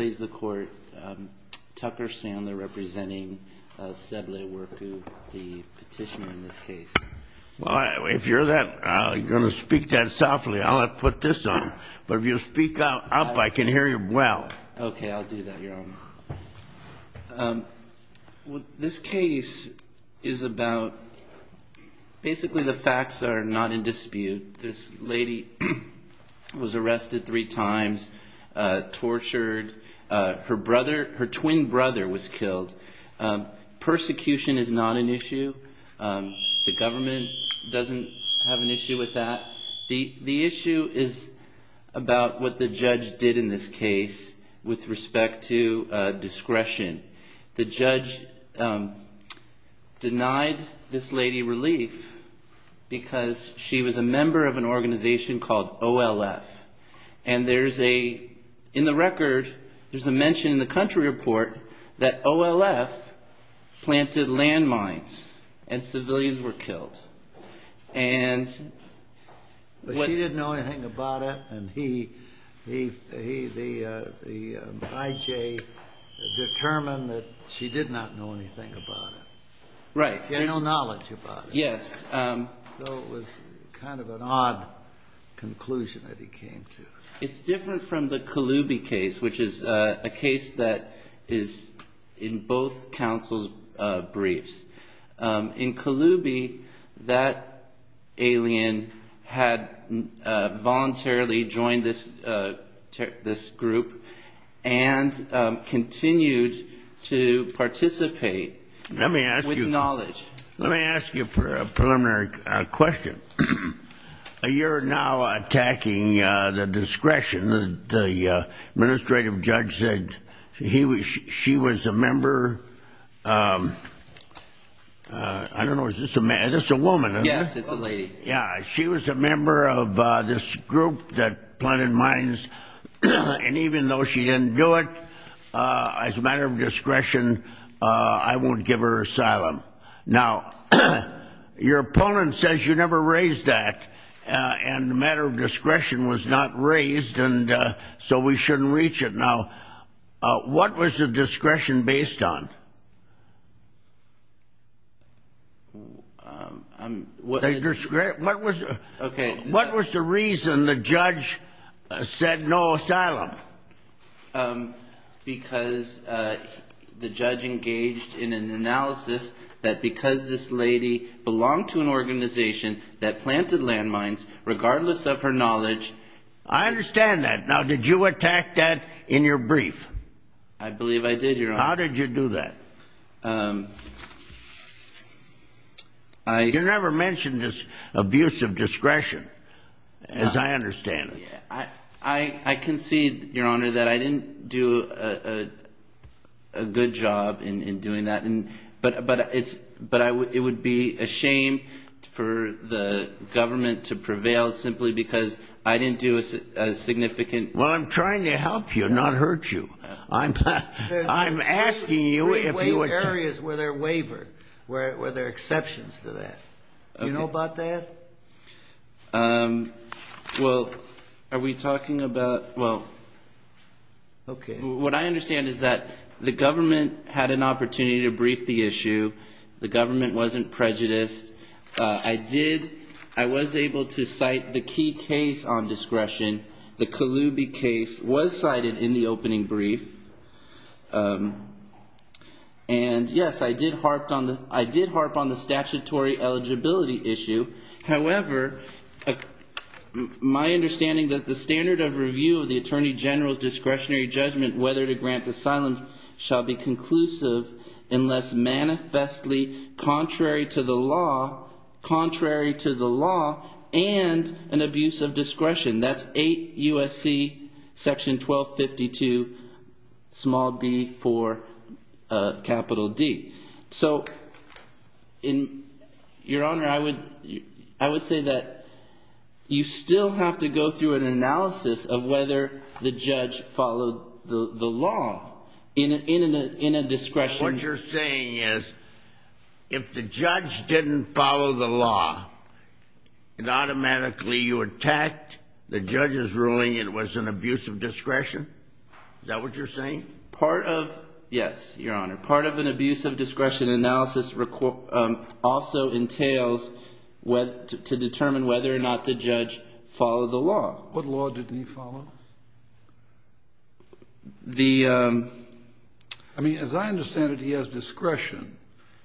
Tucker Sandler representing Seble Warku, the petitioner in this case. Well, if you're going to speak that softly, I'll put this on. But if you speak up, I can hear you well. Okay, I'll do that, Your Honor. This case is about – basically the facts are not in dispute. This lady was arrested three times, tortured. Her brother – her twin brother was killed. Persecution is not an issue. The government doesn't have an issue with that. The issue is about what the judge did in this case with respect to discretion. The judge denied this lady relief because she was a member of an organization called OLF. And there's a – in the record, there's a mention in the country report that OLF planted landmines and civilians were killed. But she didn't know anything about it, and he, the IJ, determined that she did not know anything about it. Right. He had no knowledge about it. Yes. So it was kind of an odd conclusion that he came to. It's different from the Kaloubi case, which is a case that is in both counsels' briefs. In Kaloubi, that alien had voluntarily joined this group and continued to participate with knowledge. Let me ask you a preliminary question. You're now attacking the discretion that the administrative judge said she was a member – I don't know, is this a woman? Yes, it's a lady. Yeah. She was a member of this group that planted mines. And even though she didn't do it, as a matter of discretion, I won't give her asylum. Now, your opponent says you never raised that, and the matter of discretion was not raised, and so we shouldn't reach it. Now, what was the discretion based on? What was the reason the judge said no asylum? Because the judge engaged in an analysis that because this lady belonged to an organization that planted landmines, regardless of her knowledge – I understand that. Now, did you attack that in your brief? I believe I did, Your Honor. How did you do that? I – You never mentioned this abuse of discretion, as I understand it. I concede, Your Honor, that I didn't do a good job in doing that. But it would be a shame for the government to prevail simply because I didn't do a significant – Well, I'm trying to help you, not hurt you. I'm asking you if you would – There are three areas where they're wavered, where there are exceptions to that. Okay. Do you know about that? Well, are we talking about – Well, what I understand is that the government had an opportunity to brief the issue. The government wasn't prejudiced. I did – I was able to cite the key case on discretion. The Colubi case was cited in the opening brief. And, yes, I did harp on the statutory eligibility issue. However, my understanding that the standard of review of the attorney general's discretionary judgment whether to grant asylum shall be conclusive unless manifestly contrary to the law – contrary to the law and an abuse of discretion. That's 8 U.S.C. section 1252 small b for capital D. So, Your Honor, I would say that you still have to go through an analysis of whether the judge followed the law in a discretion. So what you're saying is if the judge didn't follow the law, it automatically – you attacked the judge's ruling it was an abuse of discretion? Is that what you're saying? Part of – yes, Your Honor. Part of an abuse of discretion analysis also entails to determine whether or not the judge followed the law. What law did he follow? The – I mean, as I understand it, he has discretion,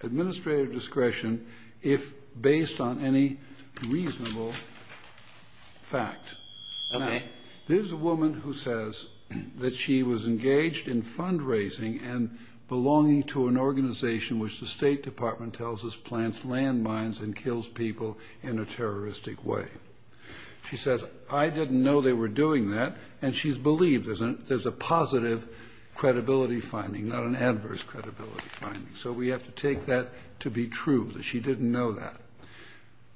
administrative discretion, if based on any reasonable fact. Okay. Now, there's a woman who says that she was engaged in fundraising and belonging to an organization which the State Department tells us plants landmines and kills people in a terroristic way. She says, I didn't know they were doing that. And she's believed there's a positive credibility finding, not an adverse credibility finding. So we have to take that to be true, that she didn't know that.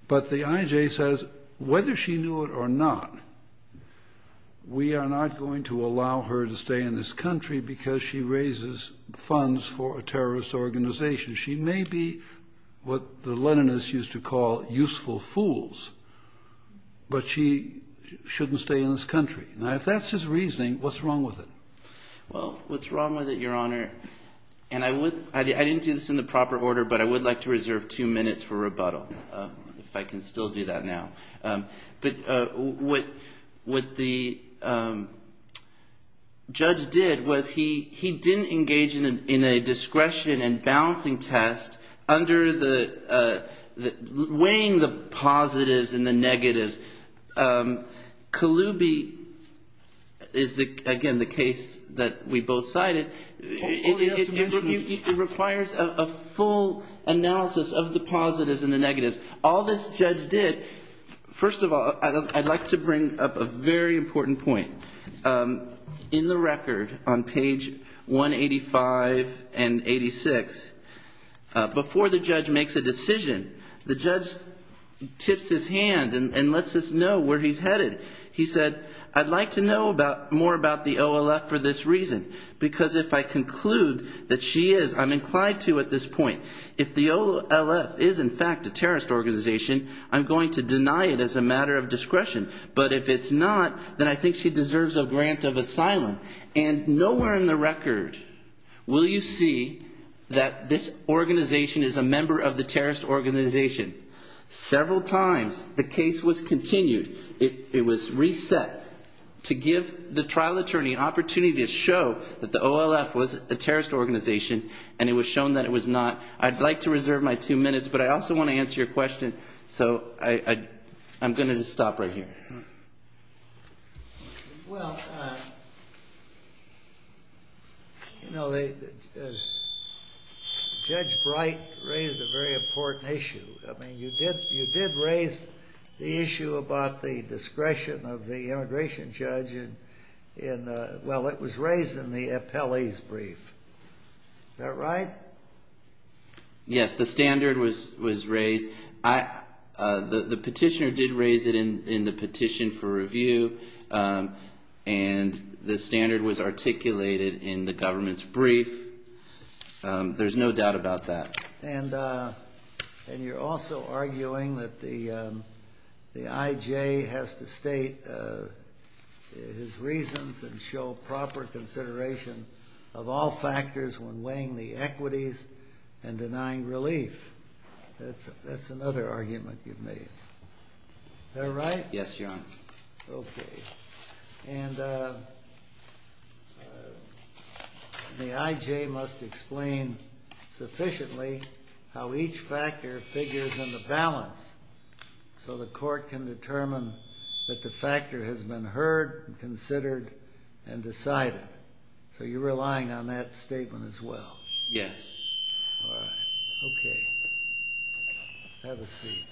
But the IJ says whether she knew it or not, we are not going to allow her to stay in this country because she raises funds for a terrorist organization. She may be what the Leninists used to call useful fools, but she shouldn't stay in this country. Now, if that's his reasoning, what's wrong with it? Well, what's wrong with it, Your Honor, and I would – I didn't do this in the proper order, but I would like to reserve two minutes for rebuttal if I can still do that now. But what the judge did was he didn't engage in a discretion and balancing test under the – weighing the positives and the negatives. Kalubi is, again, the case that we both cited. It requires a full analysis of the positives and the negatives. All this judge did – first of all, I'd like to bring up a very important point. In the record on page 185 and 86, before the judge makes a decision, the judge tips his hand and lets us know where he's headed. He said, I'd like to know more about the OLF for this reason because if I conclude that she is, I'm inclined to at this point. If the OLF is, in fact, a terrorist organization, I'm going to deny it as a matter of discretion. But if it's not, then I think she deserves a grant of asylum. And nowhere in the record will you see that this organization is a member of the terrorist organization. Several times the case was continued. It was reset to give the trial attorney an opportunity to show that the OLF was a terrorist organization, and it was shown that it was not. I'd like to reserve my two minutes, but I also want to answer your question, so I'm going to just stop right here. Well, you know, Judge Bright raised a very important issue. I mean, you did raise the issue about the discretion of the immigration judge in – well, it was raised in the appellee's brief. Is that right? Yes, the standard was raised. The petitioner did raise it in the petition for review, and the standard was articulated in the government's brief. There's no doubt about that. And you're also arguing that the IJ has to state his reasons and show proper consideration of all factors when weighing the equities and denying relief. That's another argument you've made. Is that right? Yes, Your Honor. Okay. And the IJ must explain sufficiently how each factor figures in the balance so the court can determine that the factor has been heard and considered and decided. So you're relying on that statement as well? Yes. All right. Okay. Have a seat.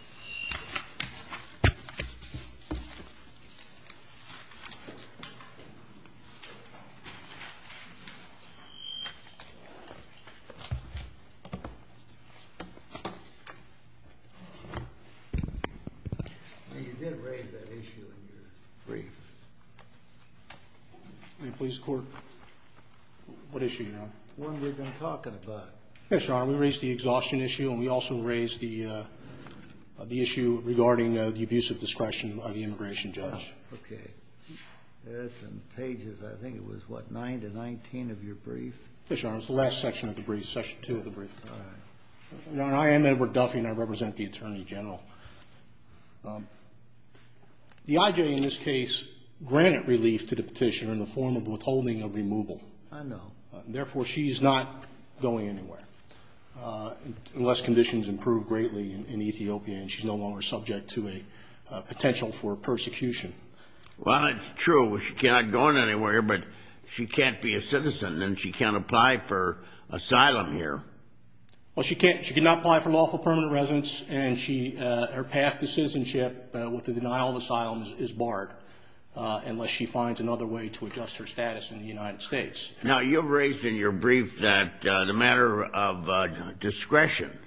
You did raise that issue in your brief. What issue, Your Honor? The one we've been talking about. Yes, Your Honor. We raised the exhaustion issue, and we also raised the issue regarding the abuse of discretion of the immigration judge. Okay. That's in pages, I think it was, what, 9 to 19 of your brief? Yes, Your Honor. It was the last section of the brief, section 2 of the brief. All right. Your Honor, I am Edward Duffy, and I represent the Attorney General. The IJ in this case granted relief to the petitioner in the form of withholding of removal. I know. Therefore, she's not going anywhere unless conditions improve greatly in Ethiopia, and she's no longer subject to a potential for persecution. Well, that's true. She's not going anywhere, but she can't be a citizen, and she can't apply for asylum here. Well, she cannot apply for lawful permanent residence, and her path to citizenship with the denial of asylum is barred unless she finds another way to adjust her status in the United States. Now, you raised in your brief that the matter of discretion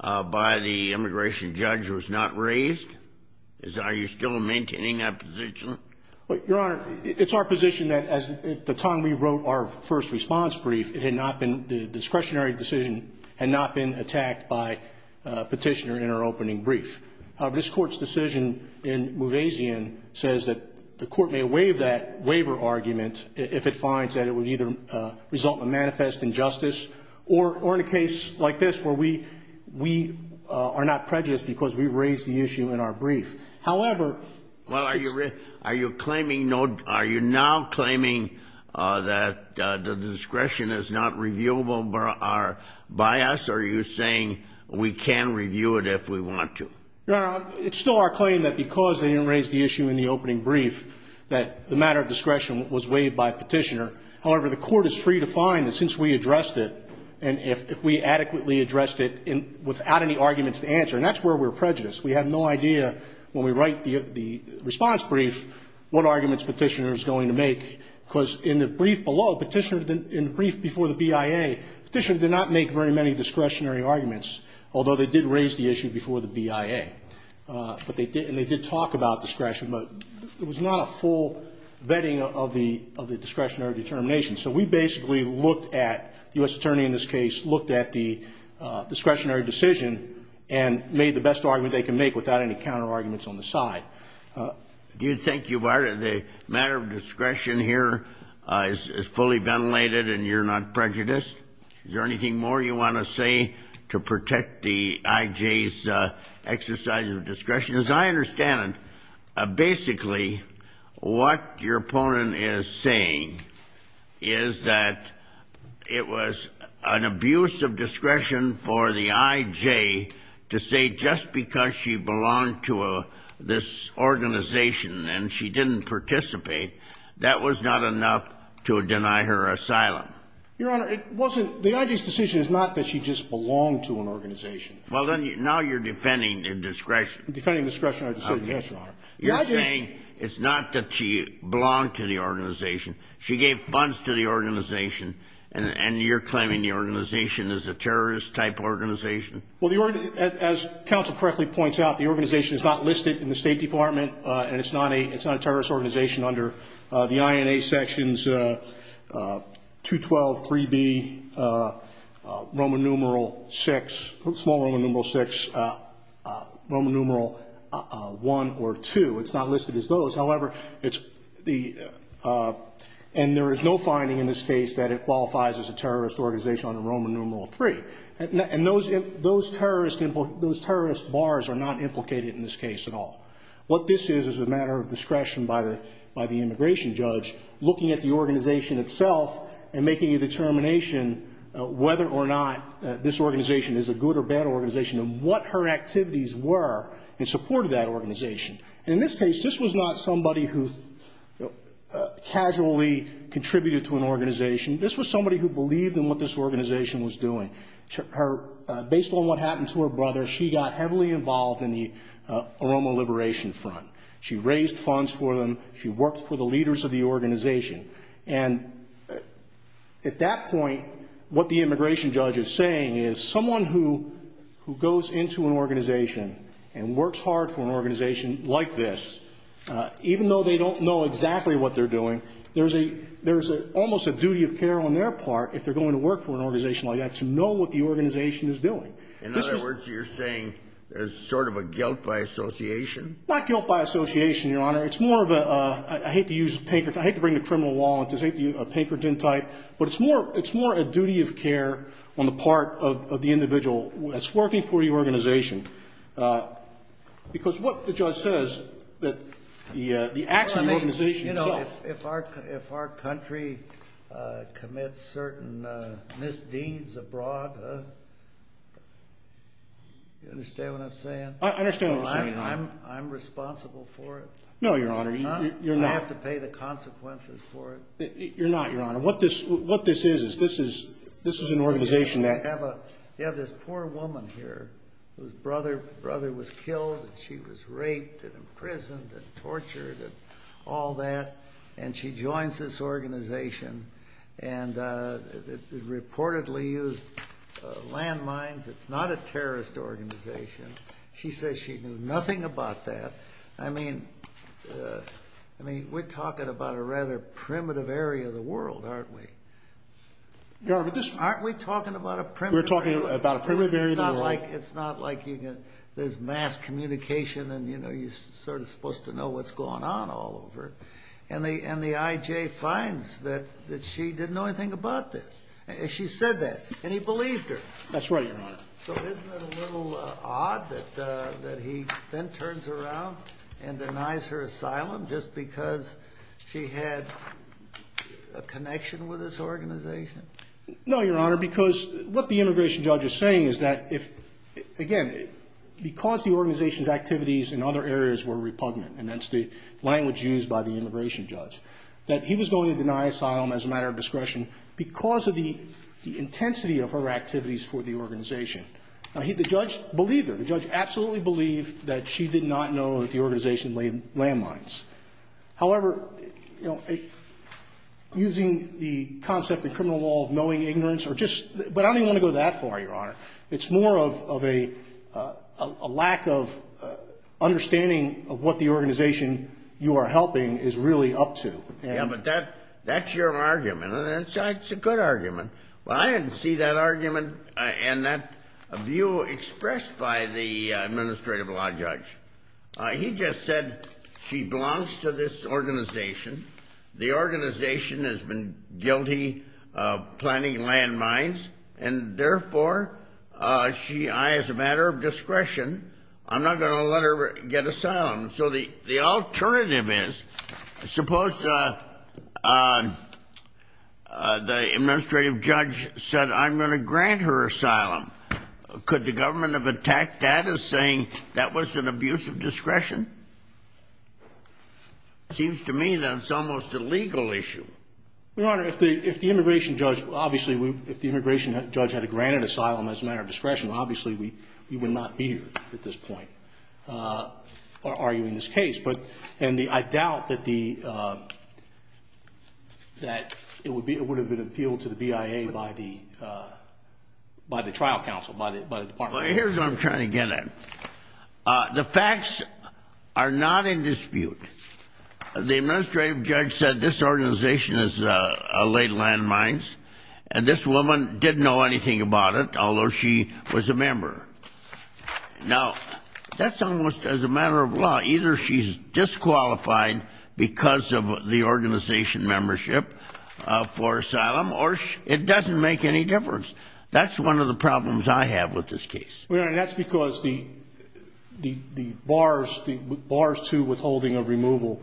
by the immigration judge was not raised. Are you still maintaining that position? Your Honor, it's our position that at the time we wrote our first response brief, the discretionary decision had not been attacked by a petitioner in our opening brief. However, this Court's decision in Muvazian says that the Court may waive that waiver argument if it finds that it would either result in manifest injustice or in a case like this where we are not prejudiced because we raised the issue in our brief. Well, are you now claiming that the discretion is not reviewable by us? Are you saying we can review it if we want to? Your Honor, it's still our claim that because they didn't raise the issue in the opening brief that the matter of discretion was waived by a petitioner. However, the Court is free to find that since we addressed it and if we adequately addressed it without any arguments to answer, and that's where we're prejudiced. We have no idea when we write the response brief what arguments the petitioner is going to make. Because in the brief below, in the brief before the BIA, the petitioner did not make very many discretionary arguments, although they did raise the issue before the BIA. And they did talk about discretion, but it was not a full vetting of the discretionary determination. So we basically looked at the U.S. attorney in this case, looked at the discretionary decision, and made the best argument they can make without any counterarguments on the side. Do you think the matter of discretion here is fully ventilated and you're not prejudiced? Is there anything more you want to say to protect the IJ's exercise of discretion? As I understand it, basically what your opponent is saying is that it was an abuse of discretion for the IJ to say just because she belonged to this organization and she didn't participate, that was not enough to deny her asylum. Your Honor, it wasn't the IJ's decision is not that she just belonged to an organization. Well, then now you're defending a discretion. I'm defending a discretionary decision, yes, Your Honor. You're saying it's not that she belonged to the organization. She gave funds to the organization, and you're claiming the organization is a terrorist-type organization? Well, as counsel correctly points out, the organization is not listed in the State Department, and it's not a terrorist organization under the INA sections 212, 3B, Roman numeral 6, Roman numeral 1 or 2. It's not listed as those. However, and there is no finding in this case that it qualifies as a terrorist organization under Roman numeral 3. And those terrorist bars are not implicated in this case at all. What this is is a matter of discretion by the immigration judge looking at the organization itself and making a determination whether or not this organization is a good or bad organization and what her activities were in support of that organization. And in this case, this was not somebody who casually contributed to an organization. This was somebody who believed in what this organization was doing. Based on what happened to her brother, she got heavily involved in the Aroma Liberation Front. She raised funds for them. She worked for the leaders of the organization. And at that point, what the immigration judge is saying is someone who goes into an organization and works hard for an organization like this, even though they don't know exactly what they're doing, there's a almost a duty of care on their part, if they're going to work for an organization like that, to know what the organization is doing. In other words, you're saying there's sort of a guilt by association? Not guilt by association, Your Honor. It's more of a – I hate to use – I hate to bring the criminal law into this. I hate the Pinkerton type. But it's more a duty of care on the part of the individual that's working for the organization. Because what the judge says, the acts of the organization itself. If our country commits certain misdeeds abroad, you understand what I'm saying? I understand what you're saying, Your Honor. I'm responsible for it? No, Your Honor. I have to pay the consequences for it? You're not, Your Honor. What this is, is this is an organization that – you have this poor woman here whose brother was killed and she was raped and imprisoned and tortured and all that, and she joins this organization and reportedly used landmines. It's not a terrorist organization. She says she knew nothing about that. I mean, we're talking about a rather primitive area of the world, aren't we? Aren't we talking about a primitive area of the world? We're talking about a primitive area of the world. It's not like there's mass communication and, you know, you're sort of supposed to know what's going on all over. And the IJ finds that she didn't know anything about this. She said that, and he believed her. That's right, Your Honor. So isn't it a little odd that he then turns around and denies her asylum just because she had a connection with this organization? No, Your Honor, because what the immigration judge is saying is that, again, because the organization's activities in other areas were repugnant, and that's the language used by the immigration judge, that he was going to deny asylum as a matter of discretion because of the intensity of her activities for the organization. The judge believed her. The judge absolutely believed that she did not know that the organization laid landmines. However, you know, using the concept in criminal law of knowing ignorance or just – but I don't even want to go that far, Your Honor. It's more of a lack of understanding of what the organization you are helping is really up to. Yeah, but that's your argument, and it's a good argument. Well, I didn't see that argument and that view expressed by the administrative law judge. He just said she belongs to this organization, the organization has been guilty of planting landmines, and therefore she – as a matter of discretion, I'm not going to let her get asylum. So the alternative is, suppose the administrative judge said I'm going to grant her asylum. Could the government have attacked that as saying that was an abuse of discretion? It seems to me that it's almost a legal issue. Your Honor, if the immigration judge – obviously, if the immigration judge had granted asylum as a matter of discretion, obviously we would not be here at this point. arguing this case. And I doubt that it would have been appealed to the BIA by the trial counsel, by the department. Here's what I'm trying to get at. The facts are not in dispute. The administrative judge said this organization has laid landmines, and this woman didn't know anything about it, although she was a member. Now, that's almost as a matter of law. Either she's disqualified because of the organization membership for asylum, or it doesn't make any difference. That's one of the problems I have with this case. Your Honor, that's because the bars to withholding of removal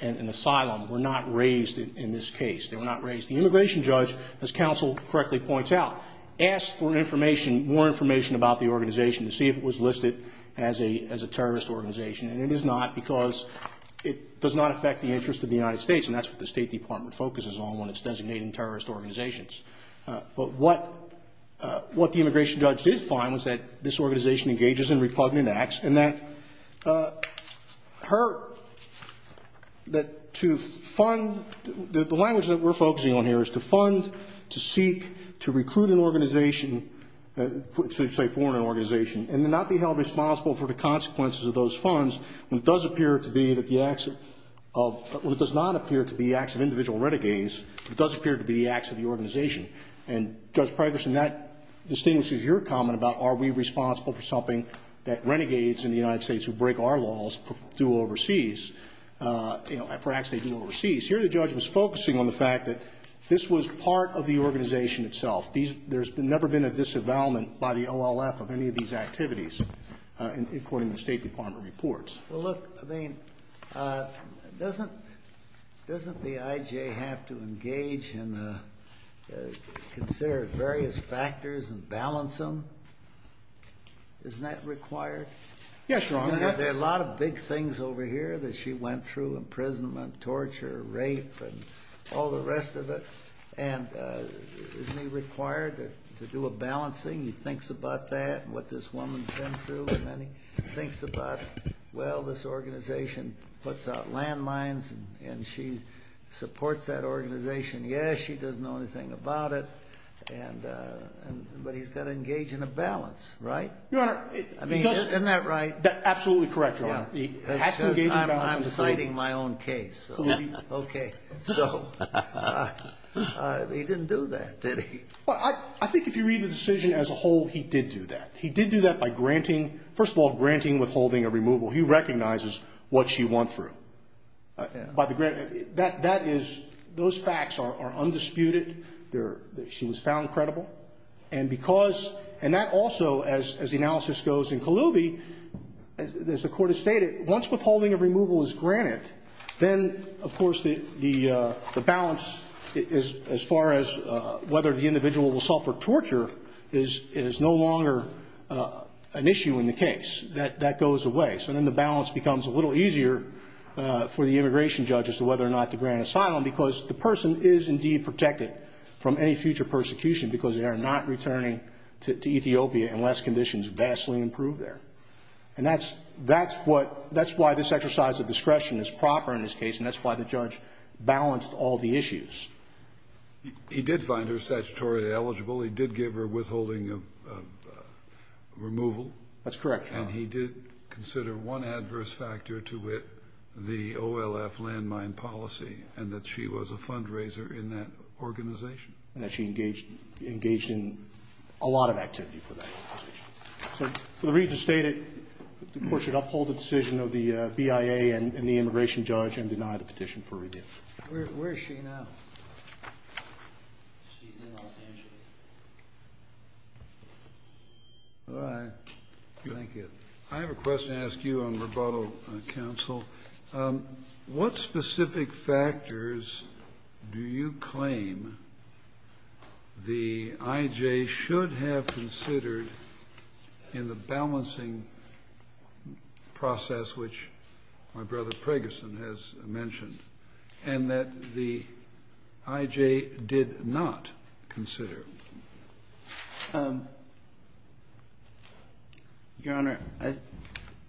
and asylum were not raised in this case. They were not raised. The immigration judge, as counsel correctly points out, asked for information, more information about the organization to see if it was listed as a terrorist organization, and it is not because it does not affect the interests of the United States, and that's what the State Department focuses on when it's designating terrorist organizations. But what the immigration judge did find was that this organization engages in repugnant acts, and that her, that to fund, the language that we're focusing on here is to fund, to seek, to recruit an organization, say foreign organization, and to not be held responsible for the consequences of those funds, when it does appear to be that the acts of, when it does not appear to be the acts of individual renegades, it does appear to be the acts of the organization. And Judge Preggerson, that distinguishes your comment about are we responsible for something that renegades in the United States who break our laws do overseas. You know, perhaps they do overseas. Here the judge was focusing on the fact that this was part of the organization itself. There's never been a disavowalment by the OLF of any of these activities, according to the State Department reports. Well, look, I mean, doesn't the IJ have to engage and consider various factors and balance them? Isn't that required? Yes, Your Honor. There are a lot of big things over here that she went through, imprisonment, torture, rape, and all the rest of it. And isn't he required to do a balancing? He thinks about that and what this woman's been through, and then he thinks about, well, this organization puts out landmines, and she supports that organization. Yes, she doesn't know anything about it, but he's got to engage in a balance, right? Isn't that right? Absolutely correct, Your Honor. I'm citing my own case. Okay. So he didn't do that, did he? I think if you read the decision as a whole, he did do that. He did do that by granting, first of all, granting, withholding, or removal. He recognizes what she went through. Those facts are undisputed. She was found credible. And that also, as the analysis goes in Kaloubi, as the court has stated, once withholding and removal is granted, then, of course, the balance, as far as whether the individual will suffer torture, is no longer an issue in the case. That goes away. So then the balance becomes a little easier for the immigration judge as to whether or not to grant asylum, because the person is indeed protected from any future persecution because they are not returning to Ethiopia unless conditions vastly improve there. And that's why this exercise of discretion is proper in this case, and that's why the judge balanced all the issues. He did find her statutorily eligible. He did give her withholding removal. That's correct, Your Honor. And he did consider one adverse factor to it, the OLF landmine policy, and that she was a fundraiser in that organization. And that she engaged in a lot of activity for that organization. So for the reasons stated, the court should uphold the decision of the BIA and the immigration judge and deny the petition for redemption. Where is she now? She's in Los Angeles. All right. Thank you. I have a question to ask you on rebuttal, counsel. What specific factors do you claim the IJ should have considered in the balancing process, which my brother Preggerson has mentioned, and that the IJ did not consider? Your Honor,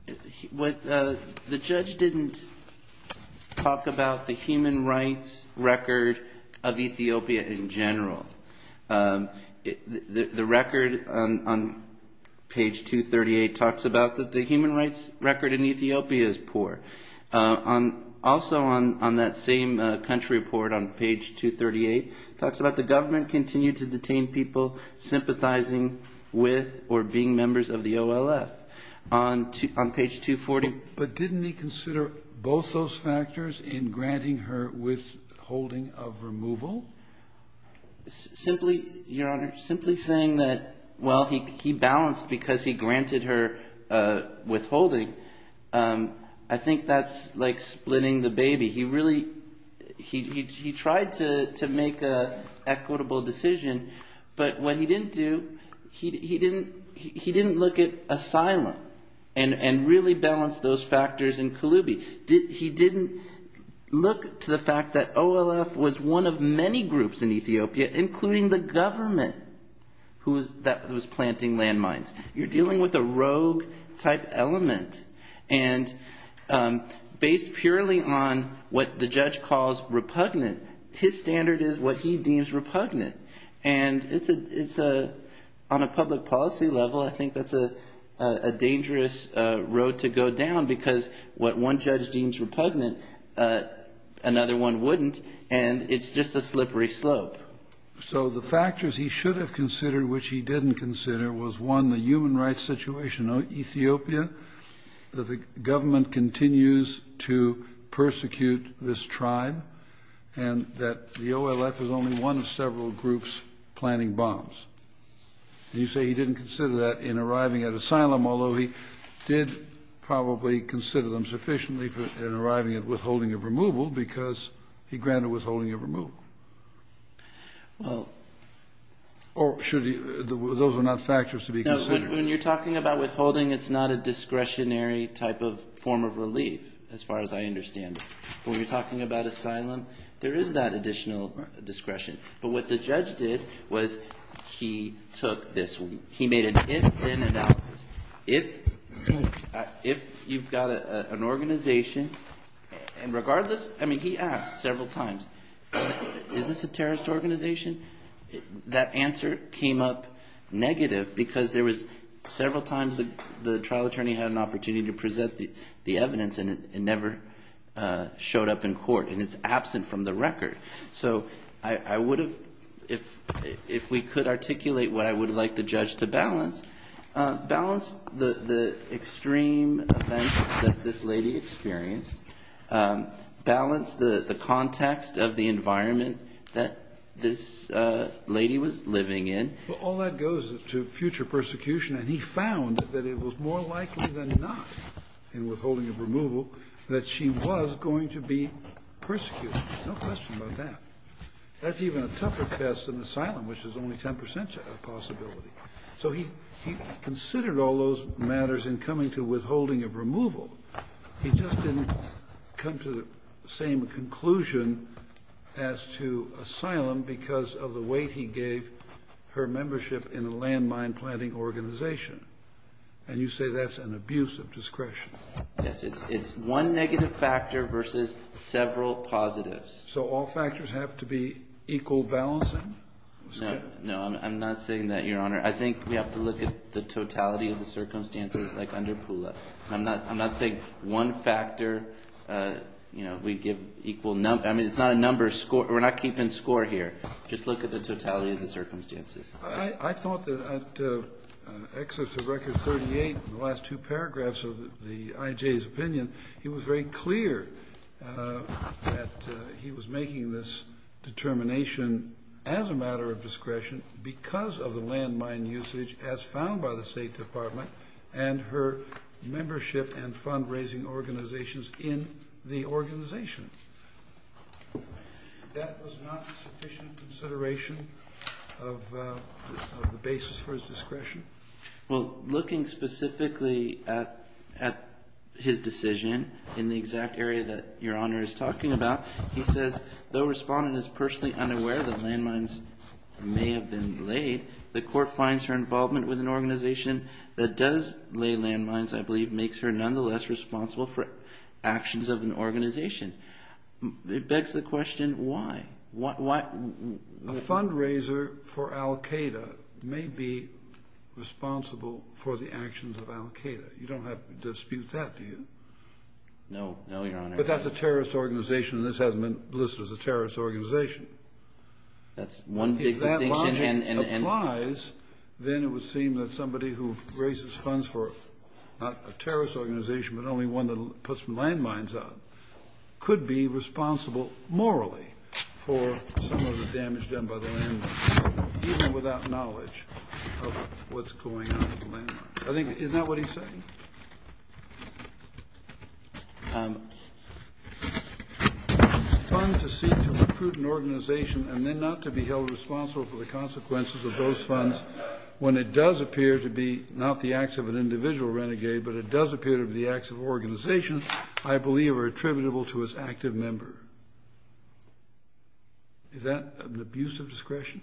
the judge didn't talk about the human rights record of Ethiopia in general. The record on page 238 talks about that the human rights record in Ethiopia is poor. Also on that same country report on page 238, it talks about the government continued to detain people sympathizing with or being members of the OLF. On page 240. But didn't he consider both those factors in granting her withholding of removal? Simply, Your Honor, simply saying that, well, he balanced because he granted her withholding. I think that's like splitting the baby. He really tried to make an equitable decision. But what he didn't do, he didn't look at asylum and really balance those factors in Kalubi. He didn't look to the fact that OLF was one of many groups in Ethiopia, including the government, who was planting landmines. You're dealing with a rogue-type element. And based purely on what the judge calls repugnant, his standard is what he deems repugnant. And on a public policy level, I think that's a dangerous road to go down, because what one judge deems repugnant, another one wouldn't, and it's just a slippery slope. So the factors he should have considered, which he didn't consider, was, one, the human rights situation in Ethiopia, that the government continues to persecute this tribe, and that the OLF is only one of several groups planting bombs. And you say he didn't consider that in arriving at asylum, although he did probably consider them sufficiently in arriving at withholding of removal, because he granted withholding of removal. Well. Or should he – those are not factors to be considered. No. When you're talking about withholding, it's not a discretionary type of form of relief, as far as I understand it. When you're talking about asylum, there is that additional discretion. But what the judge did was he took this. He made an if-then analysis. If you've got an organization, and regardless – I mean, he asked several times. Is this a terrorist organization? That answer came up negative because there was – several times the trial attorney had an opportunity to present the evidence, and it never showed up in court, and it's absent from the record. So I would have – if we could articulate what I would like the judge to balance, balance the extreme events that this lady experienced, balance the context of the environment that this lady was living in. Well, all that goes to future persecution, and he found that it was more likely than not in withholding of removal that she was going to be persecuted. No question about that. That's even a tougher test than asylum, which is only 10 percent possibility. So he considered all those matters in coming to withholding of removal. He just didn't come to the same conclusion as to asylum because of the weight he gave her membership in a landmine-planting organization. And you say that's an abuse of discretion. Yes. It's one negative factor versus several positives. So all factors have to be equal balancing? No. No, I'm not saying that, Your Honor. I think we have to look at the totality of the circumstances, like under Poola. I'm not saying one factor, you know, we give equal number. I mean, it's not a number. We're not keeping score here. Just look at the totality of the circumstances. I thought that at excerpt of Record 38, the last two paragraphs of the IJ's opinion, he was very clear that he was making this determination as a matter of discretion because of the landmine usage as found by the State Department and her membership and fundraising organizations in the organization. That was not sufficient consideration of the basis for his discretion? Well, looking specifically at his decision in the exact area that Your Honor is talking about, he says, though Respondent is personally unaware that landmines may have been laid, the court finds her involvement with an organization that does lay landmines, I believe, makes her nonetheless responsible for actions of an organization. It begs the question, why? A fundraiser for Al-Qaeda may be responsible for the actions of Al-Qaeda. You don't have to dispute that, do you? No, Your Honor. But that's a terrorist organization, and this hasn't been listed as a terrorist organization. That's one big distinction. If that logic applies, then it would seem that somebody who raises funds for not a terrorist organization but only one that puts landmines up could be responsible morally for some of the damage done by the landmines, even without knowledge of what's going on with the landmines. Funds to seek to recruit an organization and then not to be held responsible for the consequences of those funds, when it does appear to be not the acts of an individual renegade, but it does appear to be the acts of an organization, I believe are attributable to its active member. Is that an abuse of discretion?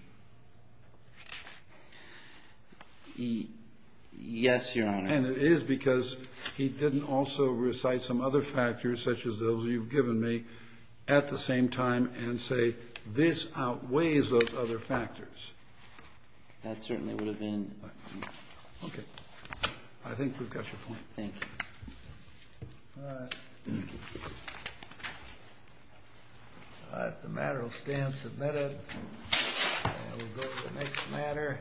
Yes, Your Honor. And it is because he didn't also recite some other factors, such as those you've given me, at the same time and say, this outweighs those other factors. That certainly would have been... Okay. I think we've got your point. Thank you. All right. Thank you. All right, the matter will stand submitted, and we'll go to the next matter.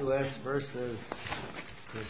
U.S. versus the Sonics.